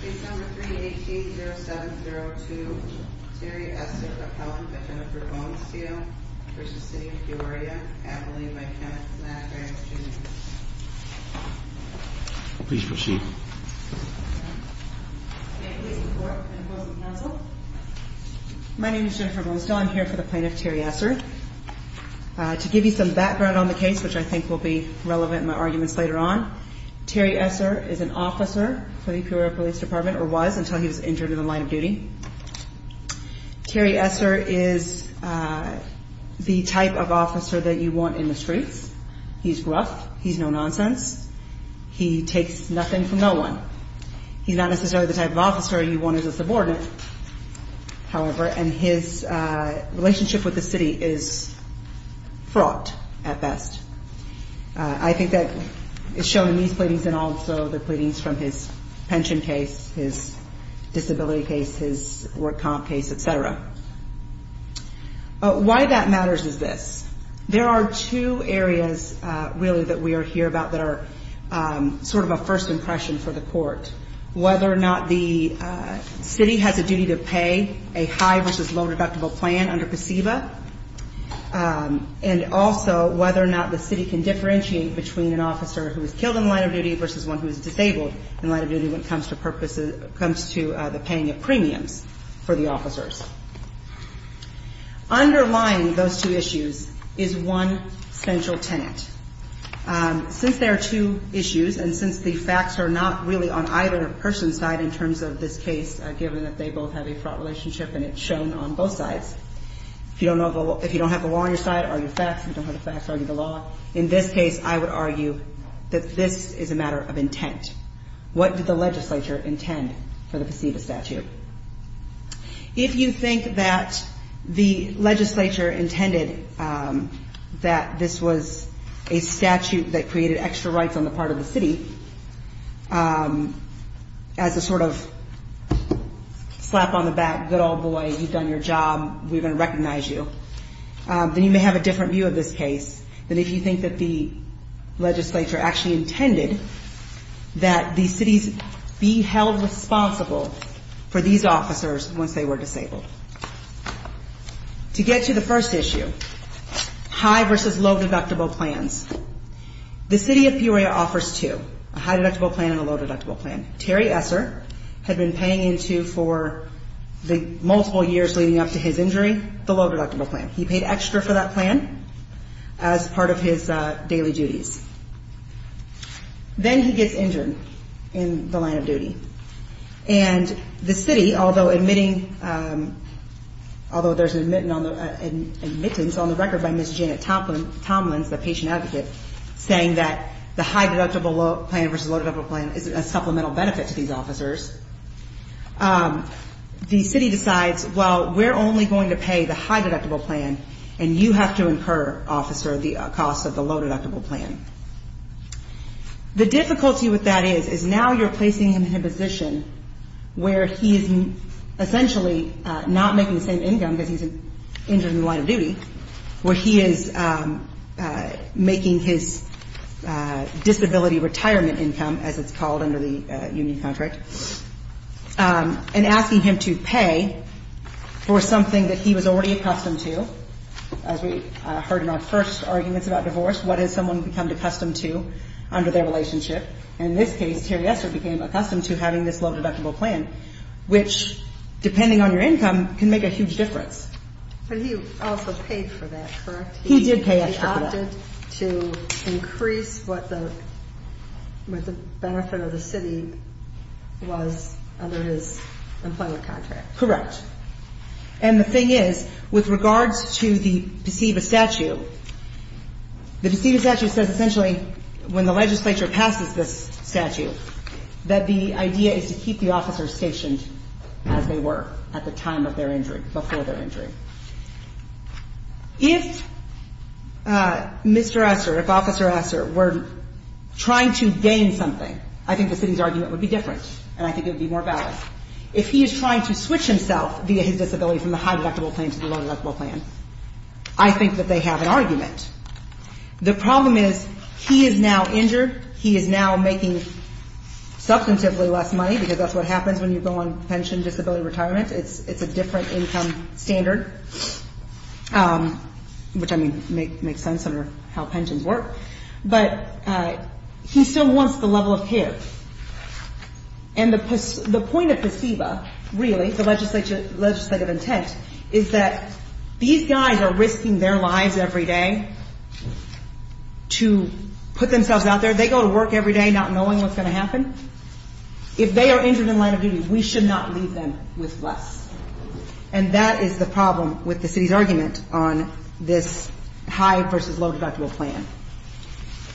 Case number 3-18-0702, Terry Esser v. Jennifer Bonestell v. City of Peoria, Adelaide by Kenneth McGrath, Jr. Please proceed. May it please the Court and the Closing Counsel. My name is Jennifer Bonestell. I'm here for the plaintiff, Terry Esser. To give you some background on the case, which I think will be relevant in my arguments later on, Terry Esser is an officer for the Peoria Police Department or was until he was injured in the line of duty. Terry Esser is the type of officer that you want in the streets. He's rough. He's no-nonsense. He takes nothing from no one. He's not necessarily the type of officer you want as a subordinate, however, and his relationship with the city is fraught at best. I think that is shown in these pleadings and also the pleadings from his pension case, his disability case, his work comp case, etc. Why that matters is this. There are two areas, really, that we are here about that are sort of a first impression for the Court. Whether or not the city has a duty to pay a high-versus-low-deductible plan under PCEVA and also whether or not the city can differentiate between an officer who is killed in the line of duty versus one who is disabled in the line of duty when it comes to the paying of premiums for the officers. Underlying those two issues is one central tenant. Since there are two issues and since the facts are not really on either person's side in terms of this case, given that they both have a fraught relationship and it's shown on both sides, if you don't have the law on your side, argue the facts, if you don't have the facts, argue the law. In this case, I would argue that this is a matter of intent. What did the legislature intend for the PCEVA statute? If you think that the legislature intended that this was a statute that created extra rights on the part of the city as a sort of slap on the back, good old boy, you've done your job, we're going to recognize you, then you may have a different view of this case than if you think that the legislature actually intended that the cities be held responsible for these officers once they were disabled. To get to the first issue, high-versus-low-deductible plans. The city of Peoria offers two, a high-deductible plan and a low-deductible plan. Terry Esser had been paying into for the multiple years leading up to his injury the low-deductible plan. He paid extra for that plan as part of his daily duties. Then he gets injured in the line of duty. And the city, although there's an admittance on the record by Ms. Janet Tomlins, the patient advocate, saying that the high-deductible plan versus low-deductible plan is a supplemental benefit to these officers, the city decides, well, we're only going to pay the high-deductible plan, and you have to incur, officer, the cost of the low-deductible plan. The difficulty with that is, is now you're placing him in a position where he is essentially not making the same income because he's injured in the line of duty, where he is making his disability retirement income, as it's called under the union contract, and asking him to pay for something that he was already accustomed to. As we heard in our first arguments about divorce, what has someone become accustomed to under their relationship? In this case, Terry Esser became accustomed to having this low-deductible plan, which, depending on your income, can make a huge difference. But he also paid for that, correct? He did pay extra for that. He opted to increase what the benefit of the city was under his employment contract. Correct. And the thing is, with regards to the PSEVA statute, the PSEVA statute says essentially when the legislature passes this statute that the idea is to keep the officers stationed as they were at the time of their injury, before their injury. If Mr. Esser, if Officer Esser were trying to gain something, I think the city's argument would be different, and I think it would be more valid. If he is trying to switch himself via his disability from the high-deductible plan to the low-deductible plan, I think that they have an argument. The problem is he is now injured, he is now making substantively less money, because that's what happens when you go on pension disability retirement. It's a different income standard, which, I mean, makes sense under how pensions work. But he still wants the level of care. And the point of PSEVA, really, the legislative intent, is that these guys are risking their lives every day to put themselves out there. They go to work every day not knowing what's going to happen. If they are injured in the line of duty, we should not leave them with less. And that is the problem with the city's argument on this high versus low-deductible plan.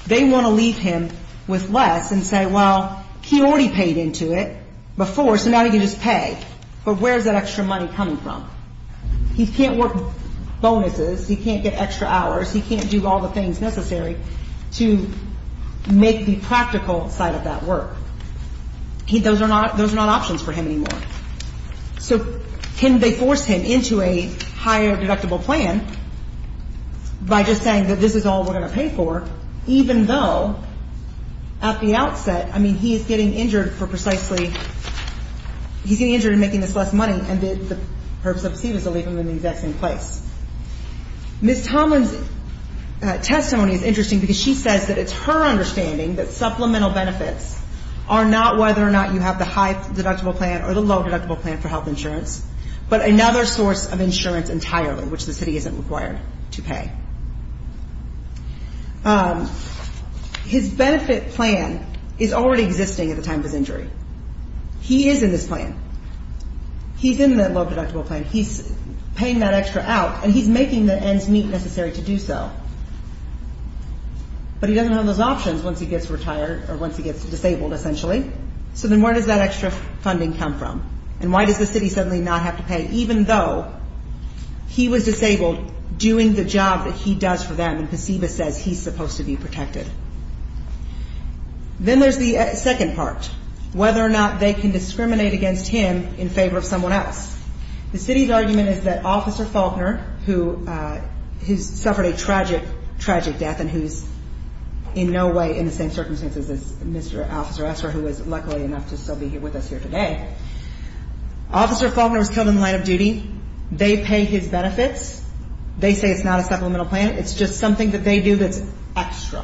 They want to leave him with less and say, well, he already paid into it before, so now he can just pay, but where is that extra money coming from? He can't work bonuses, he can't get extra hours, he can't do all the things necessary to make the practical side of that work. Those are not options for him anymore. So can they force him into a higher deductible plan by just saying that this is all we're going to pay for, even though at the outset, I mean, he is getting injured for precisely he's getting injured in making this less money and the purpose of PSEVA is to leave him in the exact same place. Ms. Tomlin's testimony is interesting because she says that it's her understanding that supplemental benefits are not whether or not you have the high-deductible plan or the low-deductible plan for health insurance, but another source of insurance entirely, which the city isn't required to pay. His benefit plan is already existing at the time of his injury. He is in this plan. He's in that low-deductible plan. He's paying that extra out, and he's making the ends meet necessary to do so. But he doesn't have those options once he gets retired or once he gets disabled, essentially. So then where does that extra funding come from, and why does the city suddenly not have to pay, even though he was disabled doing the job that he does for them and PSEVA says he's supposed to be protected? Then there's the second part, whether or not they can discriminate against him in favor of someone else. The city's argument is that Officer Faulkner, who suffered a tragic, tragic death and who's in no way in the same circumstances as Mr. Officer Esser, who is luckily enough to still be with us here today, Officer Faulkner was killed in the line of duty. They pay his benefits. They say it's not a supplemental plan. It's just something that they do that's extra.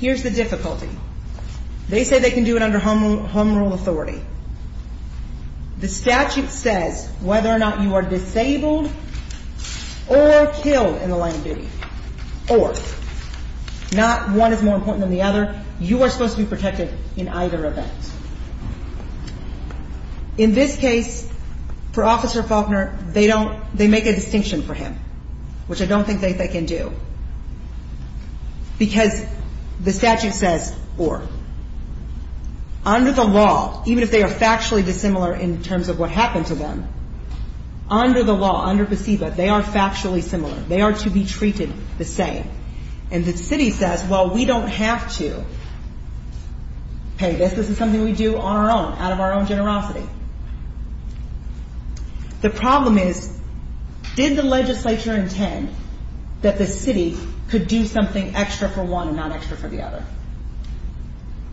Here's the difficulty. They say they can do it under home rule authority. The statute says whether or not you are disabled or killed in the line of duty or not one is more important than the other, you are supposed to be protected in either event. In this case, for Officer Faulkner, they make a distinction for him, which I don't think they can do, because the statute says or. Under the law, even if they are factually dissimilar in terms of what happened to them, under the law, under PSEVA, they are factually similar. They are to be treated the same. And the city says, well, we don't have to pay this. This is something we do on our own, out of our own generosity. The problem is, did the legislature intend that the city could do something extra for one and not extra for the other?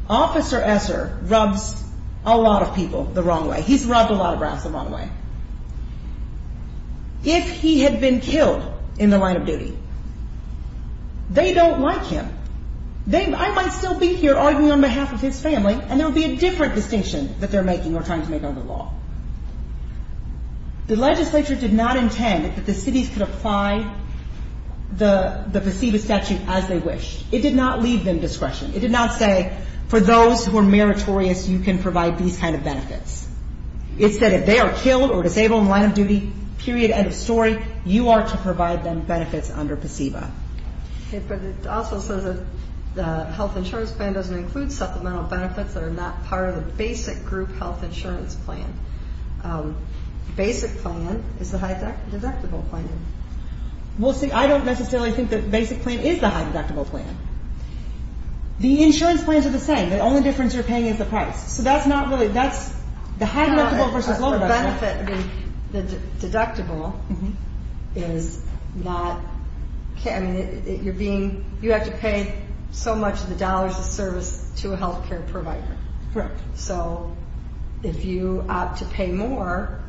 Officer Esser rubs a lot of people the wrong way. He's rubbed a lot of rats the wrong way. If he had been killed in the line of duty, they don't like him. I might still be here arguing on behalf of his family, and there would be a different distinction that they're making or trying to make under the law. The legislature did not intend that the cities could apply the PSEVA statute as they wished. It did not leave them discretion. It did not say, for those who are meritorious, you can provide these kind of benefits. It said if they are killed or disabled in the line of duty, period, end of story, you are to provide them benefits under PSEVA. But it also says that the health insurance plan doesn't include supplemental benefits that are not part of the basic group health insurance plan. Basic plan is the high deductible plan. Well, see, I don't necessarily think that basic plan is the high deductible plan. The insurance plans are the same. The only difference you're paying is the price. So that's not really, that's the high deductible versus low deductible. The benefit, the deductible, is not, I mean, you're being, you have to pay so much of the dollars of service to a health care provider. Correct. So if you opt to pay more,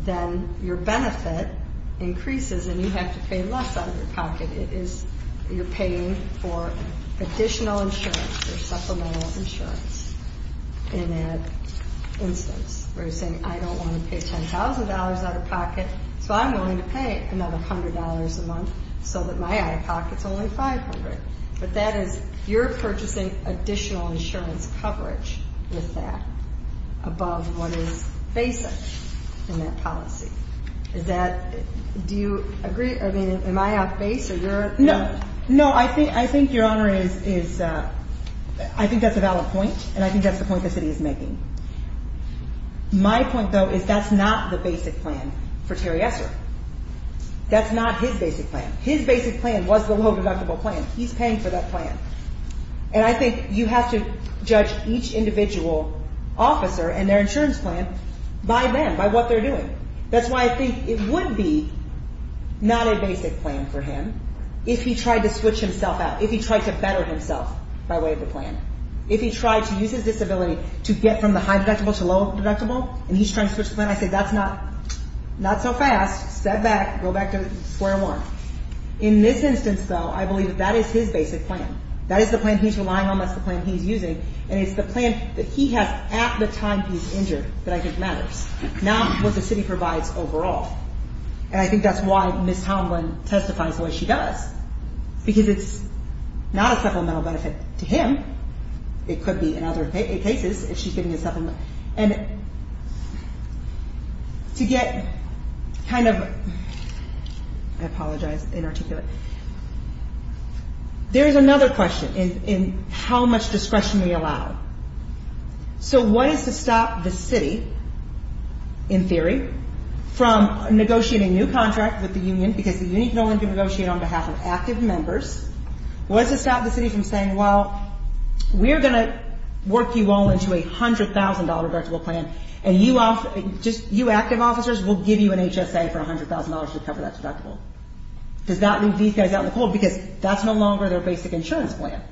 then your benefit increases and you have to pay less out of your pocket. It is, you're paying for additional insurance or supplemental insurance in that instance where you're saying I don't want to pay $10,000 out of pocket, so I'm willing to pay another $100 a month so that my out-of-pocket is only $500. But that is, you're purchasing additional insurance coverage with that above what is basic in that policy. Is that, do you agree, I mean, am I off base or you're? No. No, I think your Honor is, I think that's a valid point, and I think that's the point the city is making. My point, though, is that's not the basic plan for Terry Esser. That's not his basic plan. His basic plan was the low deductible plan. He's paying for that plan. And I think you have to judge each individual officer and their insurance plan by them, by what they're doing. That's why I think it would be not a basic plan for him if he tried to switch himself out, if he tried to better himself by way of the plan. If he tried to use his disability to get from the high deductible to low deductible, and he's trying to switch the plan, I say that's not so fast. Step back. Go back to square one. In this instance, though, I believe that that is his basic plan. That is the plan he's relying on. That's the plan he's using. And it's the plan that he has at the time he's injured that I think matters, not what the city provides overall. And I think that's why Ms. Tomlin testifies the way she does, because it's not a supplemental benefit to him. It could be in other cases if she's getting a supplement. And to get kind of, I apologize, inarticulate, there is another question in how much discretion we allow. So what is to stop the city, in theory, from negotiating a new contract with the union, because the union can only negotiate on behalf of active members. What is to stop the city from saying, well, we're going to work you all into a $100,000 deductible plan, and you active officers will give you an HSA for $100,000 to cover that deductible. Does that leave these guys out in the cold? Because that's no longer their basic insurance plan.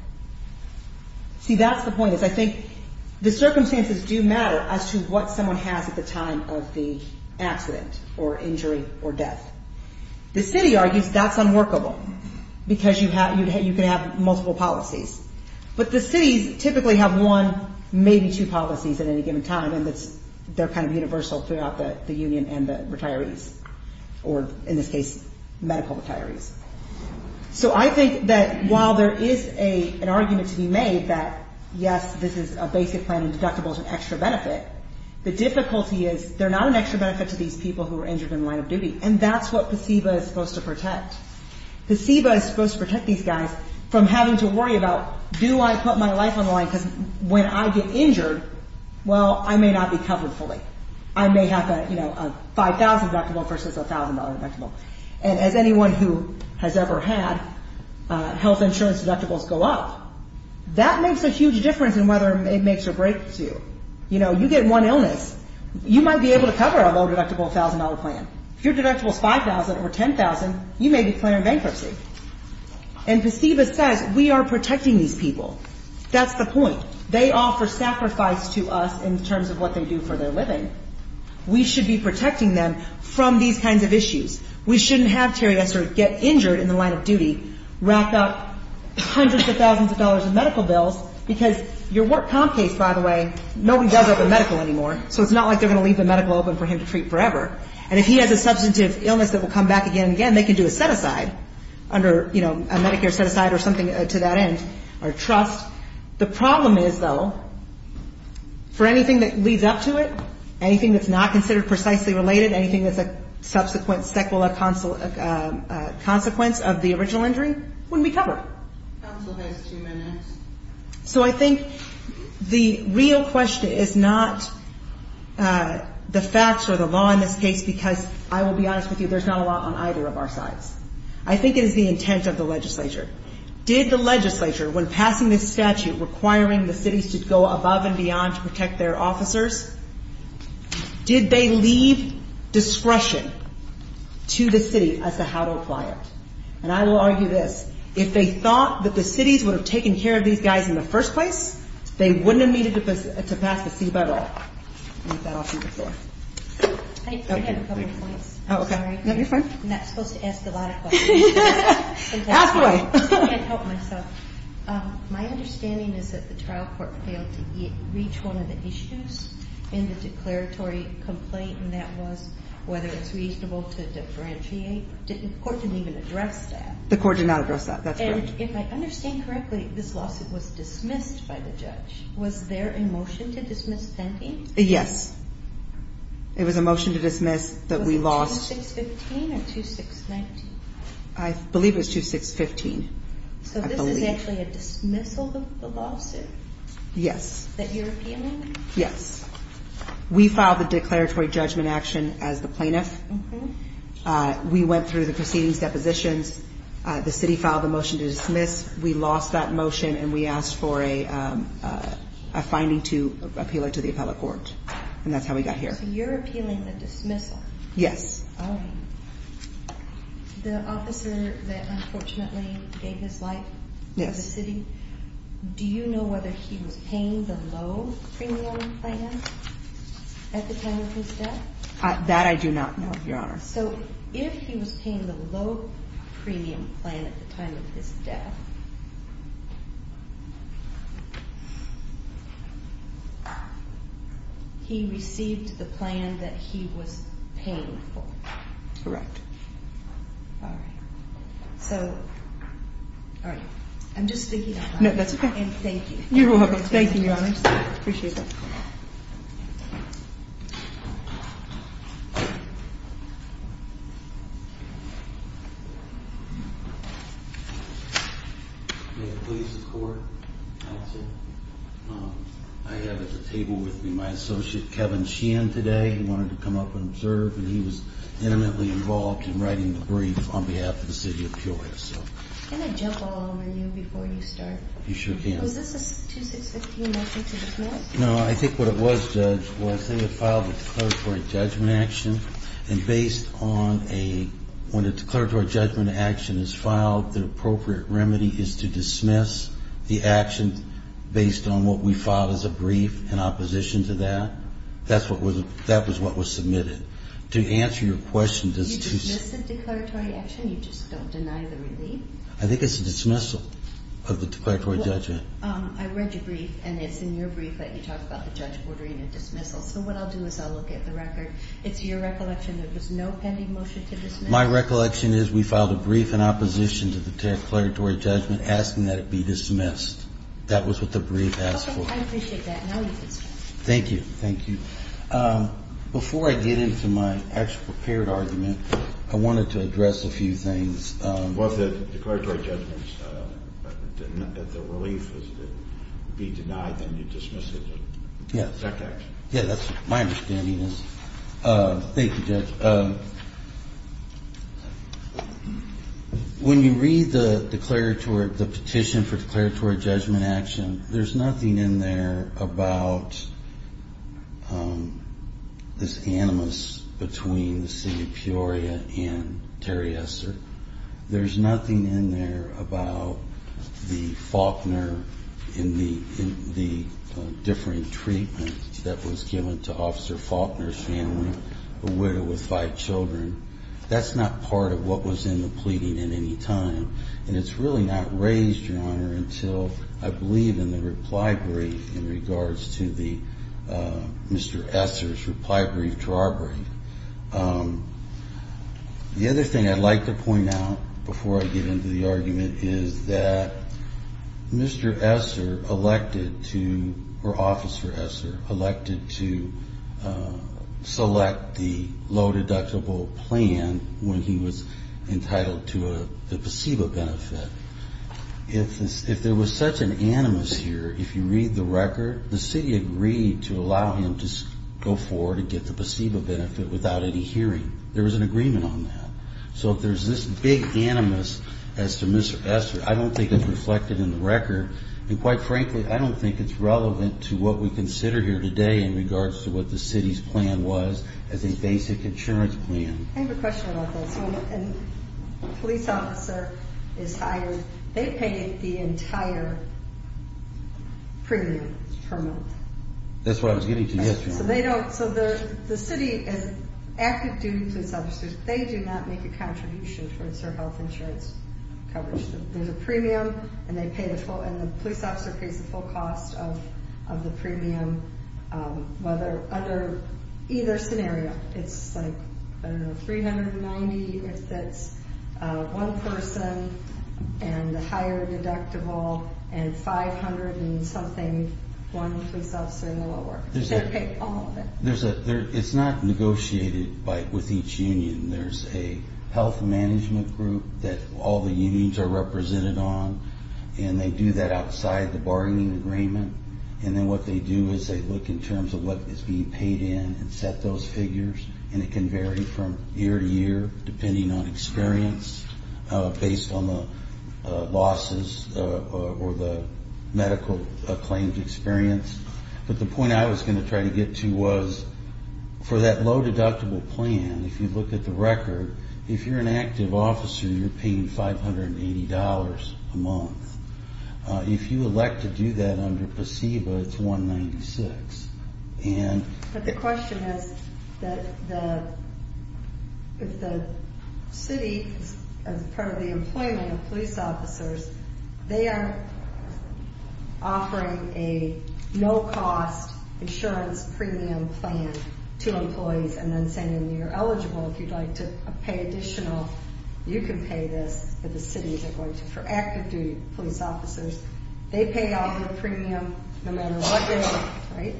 See, that's the point, is I think the circumstances do matter as to what someone has at the time of the accident or injury or death. The city argues that's unworkable, because you can have multiple policies. But the cities typically have one, maybe two policies at any given time, and they're kind of universal throughout the union and the retirees, or in this case, medical retirees. So I think that while there is an argument to be made that, yes, this is a basic plan and deductible is an extra benefit, the difficulty is they're not an extra benefit to these people who are injured in the line of duty. And that's what PSEBA is supposed to protect. PSEBA is supposed to protect these guys from having to worry about, do I put my life on the line, because when I get injured, well, I may not be covered fully. I may have a $5,000 deductible versus a $1,000 deductible. And as anyone who has ever had health insurance deductibles go up, that makes a huge difference in whether it makes or breaks you. You know, you get one illness. You might be able to cover a low-deductible $1,000 plan. If your deductible is $5,000 or $10,000, you may declare bankruptcy. And PSEBA says we are protecting these people. That's the point. They offer sacrifice to us in terms of what they do for their living. We should be protecting them from these kinds of issues. We shouldn't have Terry Esser get injured in the line of duty, rack up hundreds of thousands of dollars in medical bills, because your work comp case, by the way, nobody does open medical anymore, so it's not like they're going to leave the medical open for him to treat forever. And if he has a substantive illness that will come back again and again, they can do a set-aside under, you know, a Medicare set-aside or something to that end or trust. The problem is, though, for anything that leads up to it, anything that's not considered precisely related, anything that's a subsequent sequela consequence of the original injury, wouldn't be covered. Counsel has two minutes. So I think the real question is not the facts or the law in this case, because I will be honest with you, there's not a law on either of our sides. I think it is the intent of the legislature. Did the legislature, when passing this statute, requiring the cities to go above and beyond to protect their officers, did they leave discretion to the city as to how to apply it? And I will argue this. If they thought that the cities would have taken care of these guys in the first place, they wouldn't have needed to pass the C-by-law. I'll leave that off to you. I have a couple of points. Oh, okay. I'm not supposed to ask a lot of questions. Halfway. I can't help myself. My understanding is that the trial court failed to reach one of the issues in the declaratory complaint, and that was whether it's reasonable to differentiate. The court didn't even address that. The court did not address that. That's correct. And if I understand correctly, this lawsuit was dismissed by the judge. Was there a motion to dismiss Penty? Yes. It was a motion to dismiss that we lost. Was it 2615 or 2619? I believe it was 2615. So this is actually a dismissal of the lawsuit? Yes. That you're appealing? Yes. We filed the declaratory judgment action as the plaintiff. We went through the proceedings, depositions. The city filed the motion to dismiss. We lost that motion, and we asked for a finding to appeal it to the appellate court. And that's how we got here. So you're appealing the dismissal? Yes. All right. The officer that unfortunately gave his life for the city, do you know whether he was paying the low premium plan at the time of his death? That I do not know, Your Honor. So if he was paying the low premium plan at the time of his death, he received the plan that he was paying for? Correct. All right. So, all right. I'm just thinking of that. No, that's okay. And thank you. You're welcome. Thank you, Your Honor. Appreciate that. Thank you. May it please the Court. I have at the table with me my associate, Kevin Sheehan, today. He wanted to come up and observe, and he was intimately involved in writing the brief on behalf of the city of Peoria. Can I jump along with you before you start? You sure can. Was this a 2-6-15 motion to dismiss? No, I think what it was, Judge, was they had filed a declaratory judgment action, and based on a ñ when a declaratory judgment action is filed, the appropriate remedy is to dismiss the action based on what we filed as a brief in opposition to that. That's what was ñ that was what was submitted. To answer your question, does ñ Did you dismiss the declaratory action? You just don't deny the relief? I think it's a dismissal of the declaratory judgment. I read your brief, and it's in your brief that you talk about the judge ordering a dismissal. So what I'll do is I'll look at the record. It's your recollection there was no pending motion to dismiss? My recollection is we filed a brief in opposition to the declaratory judgment asking that it be dismissed. That was what the brief asked for. Okay. I appreciate that. Now you can speak. Thank you. Thank you. Before I get into my actual prepared argument, I wanted to address a few things. Both the declaratory judgments and the relief is that it would be denied, then you dismiss it as an exact action. Yes. Yeah, that's what my understanding is. Thank you, Judge. When you read the declaratory ñ the petition for declaratory judgment action, there's nothing in there about this animus between the city of Peoria and Terry Esser. There's nothing in there about the Faulkner and the differing treatment that was given to Officer Faulkner's family, a widow with five children. That's not part of what was in the pleading at any time. And it's really not raised, Your Honor, until I believe in the reply brief in regards to the ñ Mr. Esser's reply brief to our brief. The other thing I'd like to point out before I get into the argument is that Mr. Esser elected to ñ or Officer Esser elected to select the low-deductible plan when he was entitled to a placebo benefit. If there was such an animus here, if you read the record, the city agreed to allow him to go forward and get the placebo benefit without any hearing. There was an agreement on that. So if there's this big animus as to Mr. Esser, I don't think it's reflected in the record. And quite frankly, I don't think it's relevant to what we consider here today in regards to what the city's plan was as a basic insurance plan. I have a question about this. When a police officer is hired, they pay the entire premium per month. That's what I was getting to yesterday. So they don't ñ so the city, as active duty police officers, they do not make a contribution towards their health insurance coverage. There's a premium, and they pay the full ñ and the police officer pays the full cost of the premium under either scenario. It's like, I don't know, 390 if that's one person, and the higher deductible, and 500 and something, one police officer in the lower. They pay all of it. It's not negotiated with each union. There's a health management group that all the unions are represented on, and they do that outside the bargaining agreement. And then what they do is they look in terms of what is being paid in and set those figures, and it can vary from year to year depending on experience based on the losses or the medical claims experience. But the point I was going to try to get to was for that low deductible plan, if you look at the record, if you're an active officer, you're paying $580 a month. If you elect to do that under PSEBA, it's 196. But the question is that if the city, as part of the employment of police officers, they are offering a no-cost insurance premium plan to employees and then saying you're eligible, if you'd like to pay additional, you can pay this, but the cities are going to. For active duty police officers, they pay off their premium no matter what they're doing, right?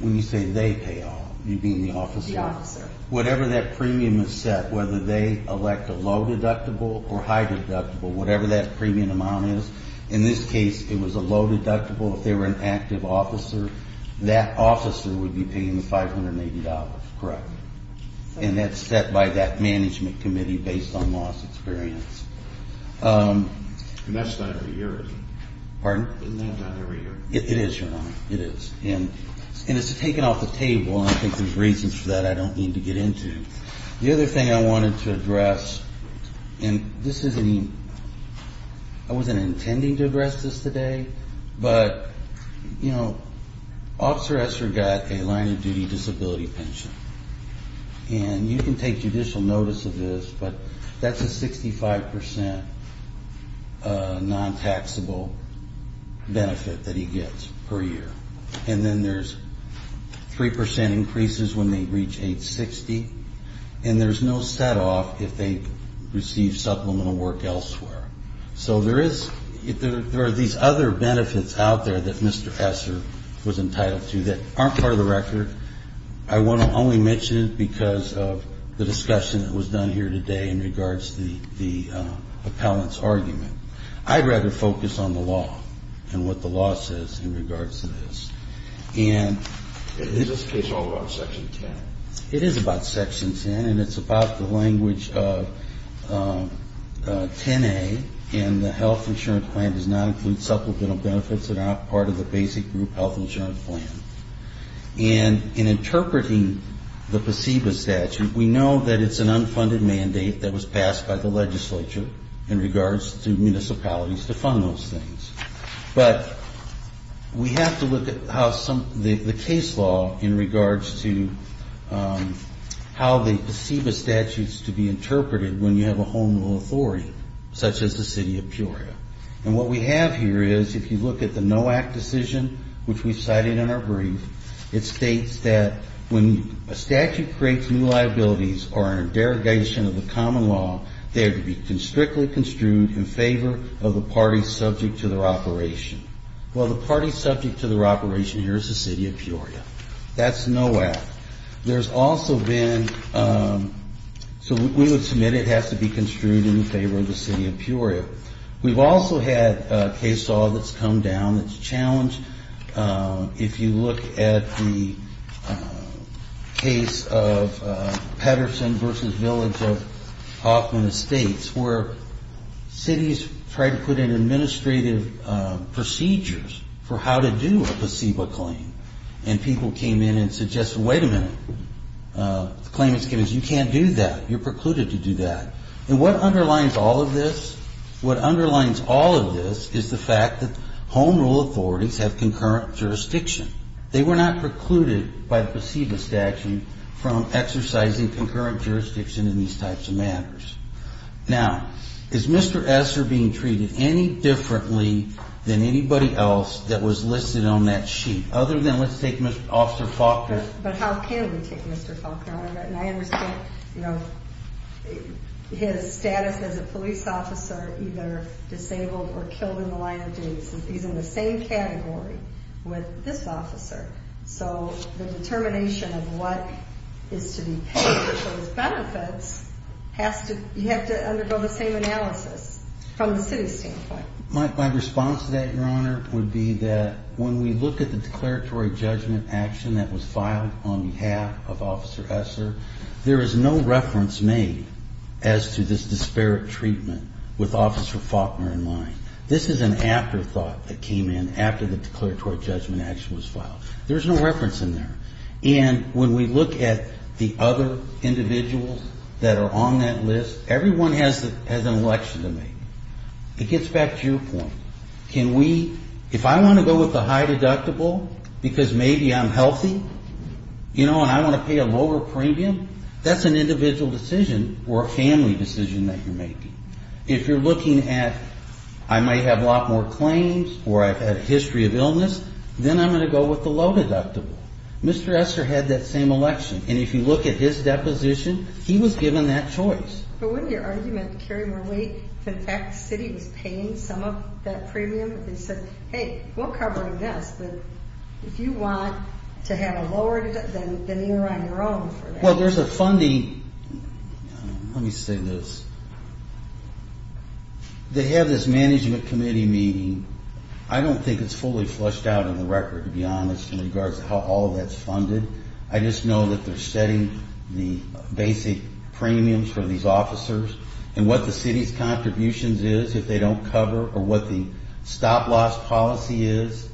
When you say they pay off, you mean the officer? The officer. Whatever that premium is set, whether they elect a low deductible or high deductible, whatever that premium amount is, in this case, it was a low deductible. If they were an active officer, that officer would be paying the $580, correct? And that's set by that management committee based on loss experience. And that's not every year, is it? Pardon? Isn't that not every year? It is, Your Honor. It is. And it's taken off the table, and I think there's reasons for that I don't need to get into. The other thing I wanted to address, and this isn't even, I wasn't intending to address this today, but, you know, Officer Esser got a line-of-duty disability pension. And you can take judicial notice of this, but that's a 65% non-taxable benefit that he gets per year. And then there's 3% increases when they reach age 60, and there's no set-off if they receive supplemental work elsewhere. So there is, there are these other benefits out there that Mr. Esser was entitled to that aren't part of the record. I want to only mention it because of the discussion that was done here today in regards to the appellant's argument. I'd rather focus on the law and what the law says in regards to this. And this is all about Section 10. It is about Section 10, and it's about the language of 10A, and the health insurance plan does not include supplemental benefits that are not part of the basic group health insurance plan. And in interpreting the PACEBA statute, we know that it's an unfunded mandate that was passed by the legislature in regards to municipalities to fund those things. But we have to look at how some, the case law in regards to how the PACEBA statutes to be interpreted when you have a home rule authority such as the city of Peoria. And what we have here is, if you look at the NOAC decision, which we've cited in our brief, it states that when a statute creates new liabilities or a derogation of the common law, they are to be strictly construed in favor of the party subject to their operation. Well, the party subject to their operation here is the city of Peoria. That's NOAC. There's also been, so we would submit it has to be construed in favor of the city of Peoria. We've also had a case law that's come down that's challenged. If you look at the case of Patterson v. Village of Hoffman Estates, where cities tried to put in administrative procedures for how to do a PACEBA claim. And people came in and suggested, wait a minute. The claimants came in and said you can't do that. You're precluded to do that. And what underlines all of this? What underlines all of this is the fact that home rule authorities have concurrent jurisdiction. They were not precluded by the PACEBA statute from exercising concurrent jurisdiction in these types of matters. Now, is Mr. Esser being treated any differently than anybody else that was listed on that sheet? Other than let's take Mr. Officer Faulkner. But how can we take Mr. Faulkner? And I understand, you know, his status as a police officer, either disabled or killed in the line of duty. He's in the same category with this officer. So the determination of what is to be paid for those benefits has to, you have to undergo the same analysis from the city standpoint. My response to that, Your Honor, would be that when we look at the declaratory judgment action that was filed on behalf of Officer Esser, there is no reference made as to this disparate treatment with Officer Faulkner in line. This is an afterthought that came in after the declaratory judgment action was filed. There's no reference in there. And when we look at the other individuals that are on that list, everyone has an election to make. It gets back to your point. Can we, if I want to go with the high deductible because maybe I'm healthy, you know, and I want to pay a lower premium, that's an individual decision or a family decision that you're making. If you're looking at I might have a lot more claims or I've had a history of illness, then I'm going to go with the low deductible. Mr. Esser had that same election. And if you look at his deposition, he was given that choice. But wouldn't your argument carry more weight if, in fact, the city was paying some of that premium? If they said, hey, we're covering this, but if you want to have a lower deductible, then you're on your own for that. Well, there's a funding. Let me say this. They have this management committee meeting. I don't think it's fully flushed out in the record, to be honest, in regards to how all of that's funded. I just know that they're setting the basic premiums for these officers and what the city's contributions is, if they don't cover, or what the stop-loss policy is.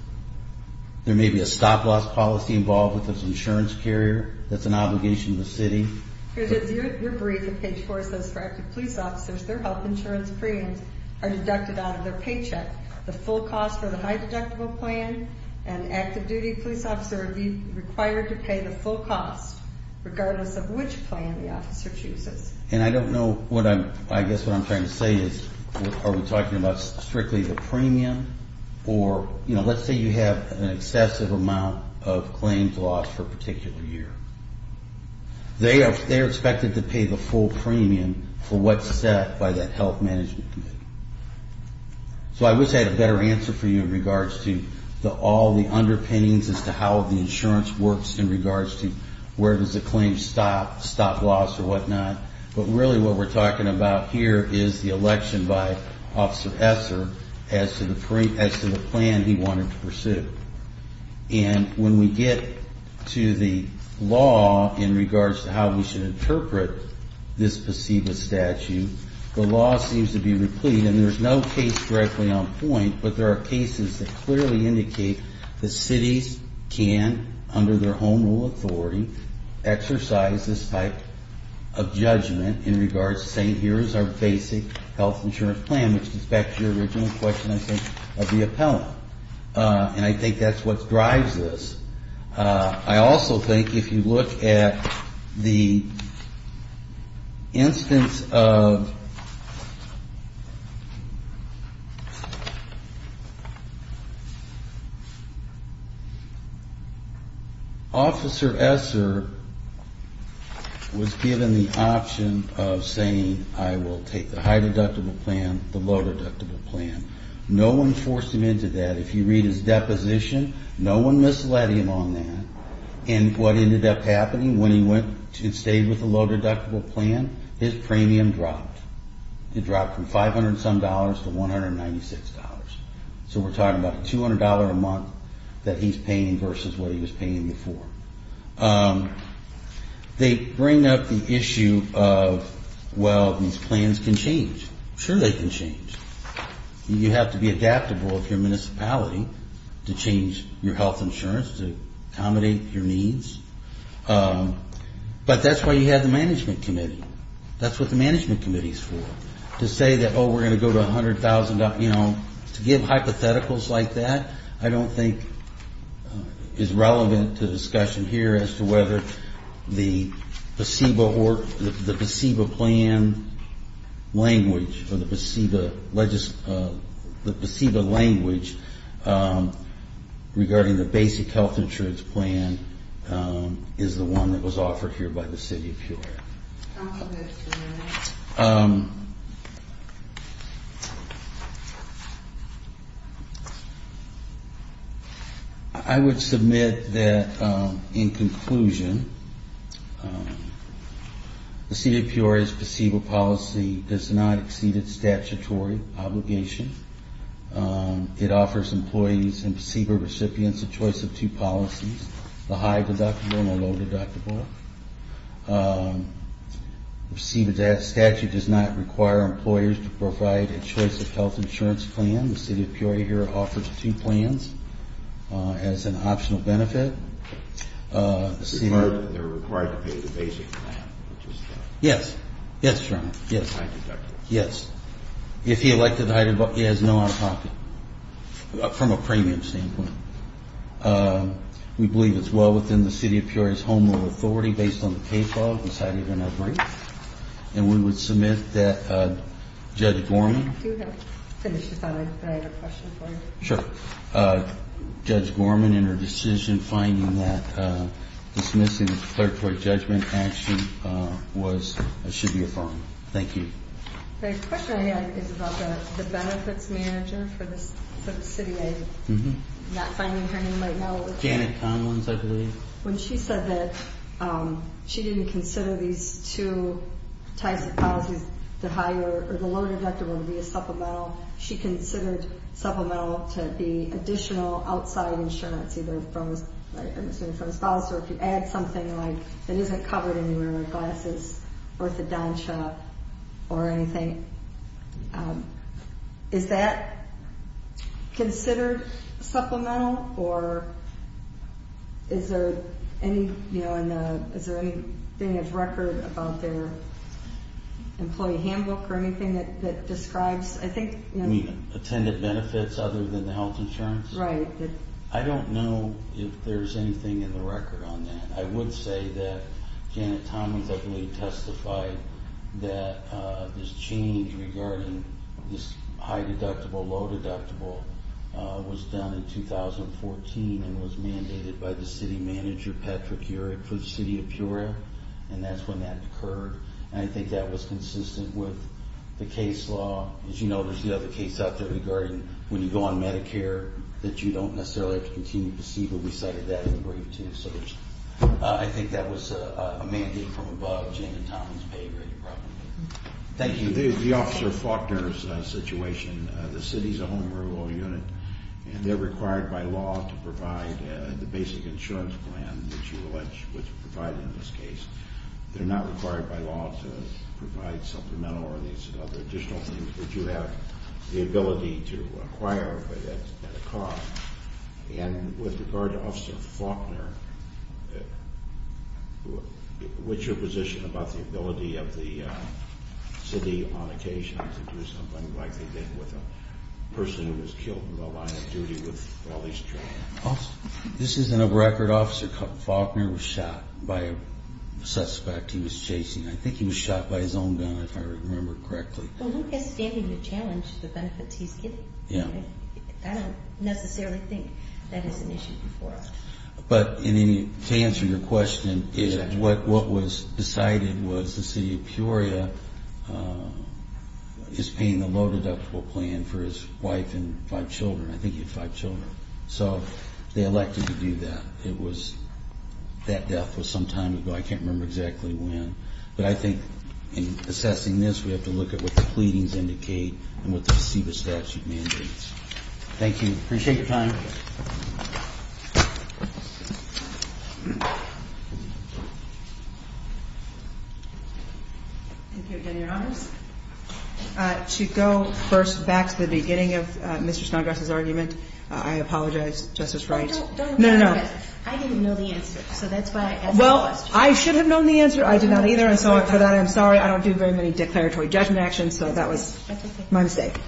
There may be a stop-loss policy involved with this insurance carrier. That's an obligation of the city. You agreed to page 4, it says for active police officers, their health insurance premiums are deducted out of their paycheck. The full cost for the high-deductible plan, an active-duty police officer would be required to pay the full cost, regardless of which plan the officer chooses. And I don't know what I'm – I guess what I'm trying to say is, are we talking about strictly the premium? Or, you know, let's say you have an excessive amount of claims lost for a particular year. They are expected to pay the full premium for what's set by that health management committee. So I wish I had a better answer for you in regards to all the underpinnings as to how the insurance works in regards to where does the claim stop, stop-loss or whatnot. But really what we're talking about here is the election by Officer Esser as to the plan he wanted to pursue. And when we get to the law in regards to how we should interpret this placebo statute, the law seems to be replete. And there's no case directly on point, but there are cases that clearly indicate the cities can, under their home rule authority, exercise this type of judgment in regards to saying, here is our basic health insurance plan, which goes back to your original question, I think, of the appellant. And I think that's what drives this. I also think if you look at the instance of Officer Esser was given the option of saying, I will take the high deductible plan, the low deductible plan. No one forced him into that. If you read his deposition, no one misled him on that. And what ended up happening when he went and stayed with the low deductible plan, his premium dropped. It dropped from $500 some dollars to $196. So we're talking about $200 a month that he's paying versus what he was paying before. They bring up the issue of, well, these plans can change. Sure they can change. You have to be adaptable of your municipality to change your health insurance to accommodate your needs. But that's why you have the management committee. That's what the management committee is for, to say that, oh, we're going to go to $100,000. You know, to give hypotheticals like that I don't think is relevant to discussion here as to whether the PSEBA plan language or the PSEBA language regarding the basic health insurance plan is the one that was offered here by the city of Peoria. I would submit that, in conclusion, the city of Peoria's PSEBA policy does not exceed its statutory obligation. It offers employees and PSEBA recipients a choice of two policies, the high deductible and the low deductible. The PSEBA statute does not require employers to provide a choice of health insurance plan. The city of Peoria here offers two plans as an optional benefit. They're required to pay the basic plan. Yes, yes, Your Honor. High deductible. Yes. If he elected high deductible, he has no other option from a premium standpoint. We believe it's well within the city of Peoria's home rule authority, based on the case law, and decided in our brief. And we would submit that Judge Gorman Do you have, finish your thought, I have a question for you. Sure. Judge Gorman, in her decision, finding that dismissing the declaratory judgment action was, should be affirmed. Thank you. The question I had is about the benefits manager for the city. I'm not finding her name right now. Janet Conlin's, I believe. When she said that she didn't consider these two types of policies, the high or the low deductible to be a supplemental, she considered supplemental to be additional outside insurance, either from his house, or if you add something like, that isn't covered anywhere, glasses, orthodontia, or anything. Is that considered supplemental? Or is there anything in his record about their employee handbook or anything that describes, I think You mean attendant benefits other than the health insurance? Right. I don't know if there's anything in the record on that. I would say that Janet Conlin's, I believe, testified that this change regarding this high deductible, low deductible, was done in 2014 and was mandated by the city manager, Patrick Heurich, for the city of Peoria. And that's when that occurred. And I think that was consistent with the case law. As you know, there's the other case out there regarding when you go on Medicare, that you don't necessarily have to continue placebo. We cited that in the brief, too. So I think that was a mandate from above. Janet Conlin's paid very properly. Thank you. The Officer Faulkner's situation, the city's a home renewal unit, and they're required by law to provide the basic insurance plan that you allege was provided in this case. They're not required by law to provide supplemental or these other additional things that you have the ability to acquire at a cost. And with regard to Officer Faulkner, what's your position about the ability of the city, on occasion, to do something like they did with a person who was killed in the line of duty with all these children? This is in a record. Officer Faulkner was shot by a suspect he was chasing. I think he was shot by his own gun, if I remember correctly. Well, who has standing to challenge the benefits he's getting? I don't necessarily think that is an issue before us. But to answer your question, what was decided was the city of Peoria is paying a low-deductible plan for his wife and five children. I think he had five children. So they elected to do that. It was that death was some time ago. I can't remember exactly when. But I think in assessing this, we have to look at what the pleadings indicate and what the CEBA statute mandates. Thank you. Appreciate your time. Thank you. Thank you again, Your Honors. To go first back to the beginning of Mr. Snodgrass's argument, I apologize, Justice Wright. No, no, no. I didn't know the answer. So that's why I asked the question. Well, I should have known the answer. I did not either. And so for that, I'm sorry. I don't do very many declaratory judgment actions. So that was my mistake.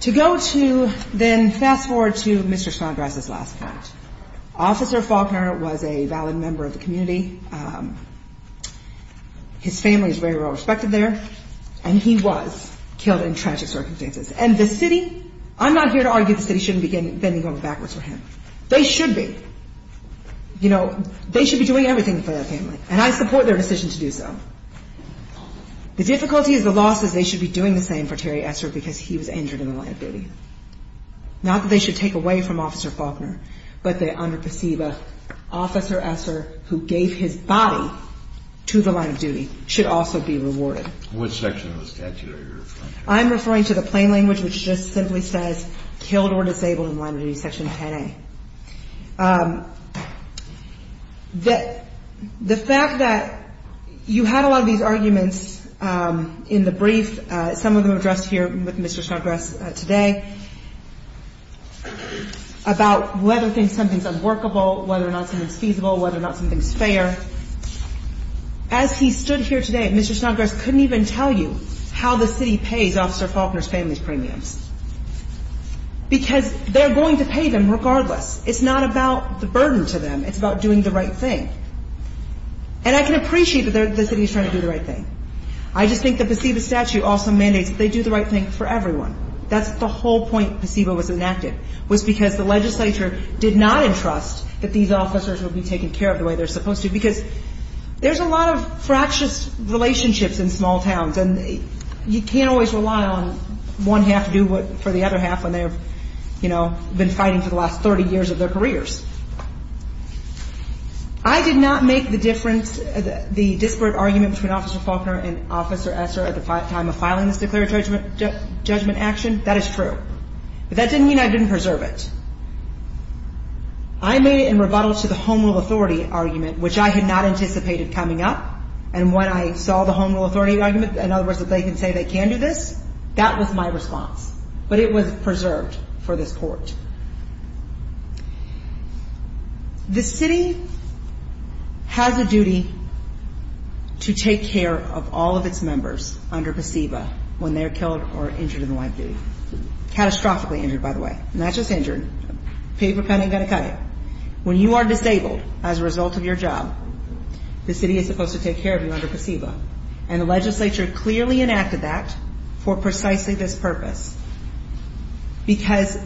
To go to then fast forward to Mr. Snodgrass's last comment. Officer Faulkner was a valid member of the community. His family is very well respected there. And he was killed in tragic circumstances. And the city, I'm not here to argue the city shouldn't begin bending over backwards for him. They should be. You know, they should be doing everything for their family. And I support their decision to do so. The difficulty is the loss is they should be doing the same for Terry Esser because he was injured in the line of duty. Not that they should take away from Officer Faulkner. But they underperceive Officer Esser, who gave his body to the line of duty, should also be rewarded. What section of the statute are you referring to? I'm referring to the plain language, which just simply says killed or disabled in line of duty, Section 10A. The fact that you had a lot of these arguments in the brief, some of them addressed here with Mr. Snodgrass today, about whether something is unworkable, whether or not something is feasible, whether or not something is fair. As he stood here today, Mr. Snodgrass couldn't even tell you how the city pays Officer Faulkner's family's premiums. Because they're going to pay them regardless. It's not about the burden to them. It's about doing the right thing. And I can appreciate that the city is trying to do the right thing. I just think the placebo statute also mandates that they do the right thing for everyone. That's the whole point placebo was enacted, was because the legislature did not entrust that these officers would be taken care of the way they're supposed to. Because there's a lot of fractious relationships in small towns. And you can't always rely on one half to do for the other half when they have, you know, been fighting for the last 30 years of their careers. I did not make the difference, the disparate argument between Officer Faulkner and Officer Esser at the time of filing this declaratory judgment action. That is true. But that didn't mean I didn't preserve it. I made it in rebuttal to the Home Rule Authority argument, which I had not anticipated coming up. And when I saw the Home Rule Authority argument, in other words, that they can say they can do this, that was my response. But it was preserved for this court. The city has a duty to take care of all of its members under placebo when they're killed or injured in the line of duty. Catastrophically injured, by the way. Not just injured. Paper cutting, got to cut it. When you are disabled as a result of your job, the city is supposed to take care of you under placebo. And the legislature clearly enacted that for precisely this purpose. Because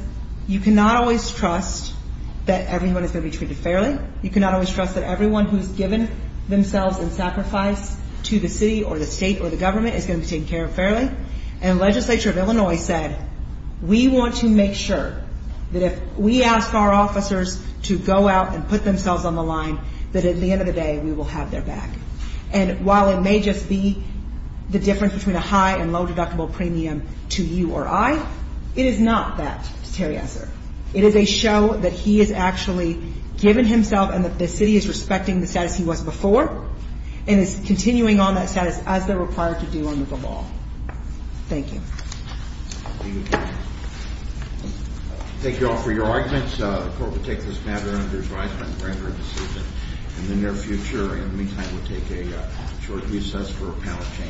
you cannot always trust that everyone is going to be treated fairly. You cannot always trust that everyone who's given themselves in sacrifice to the city or the state or the government is going to be taken care of fairly. And the legislature of Illinois said, we want to make sure that if we ask our officers to go out and put themselves on the line, that at the end of the day we will have their back. And while it may just be the difference between a high and low deductible premium to you or I, it is not that, to Terry Esser. It is a show that he has actually given himself and that the city is respecting the status he was before and is continuing on that status as they're required to do under the law. Thank you. Thank you all for your arguments. The court will take this matter under advisement, render a decision in the near future. In the meantime, we'll take a short recess for panel change.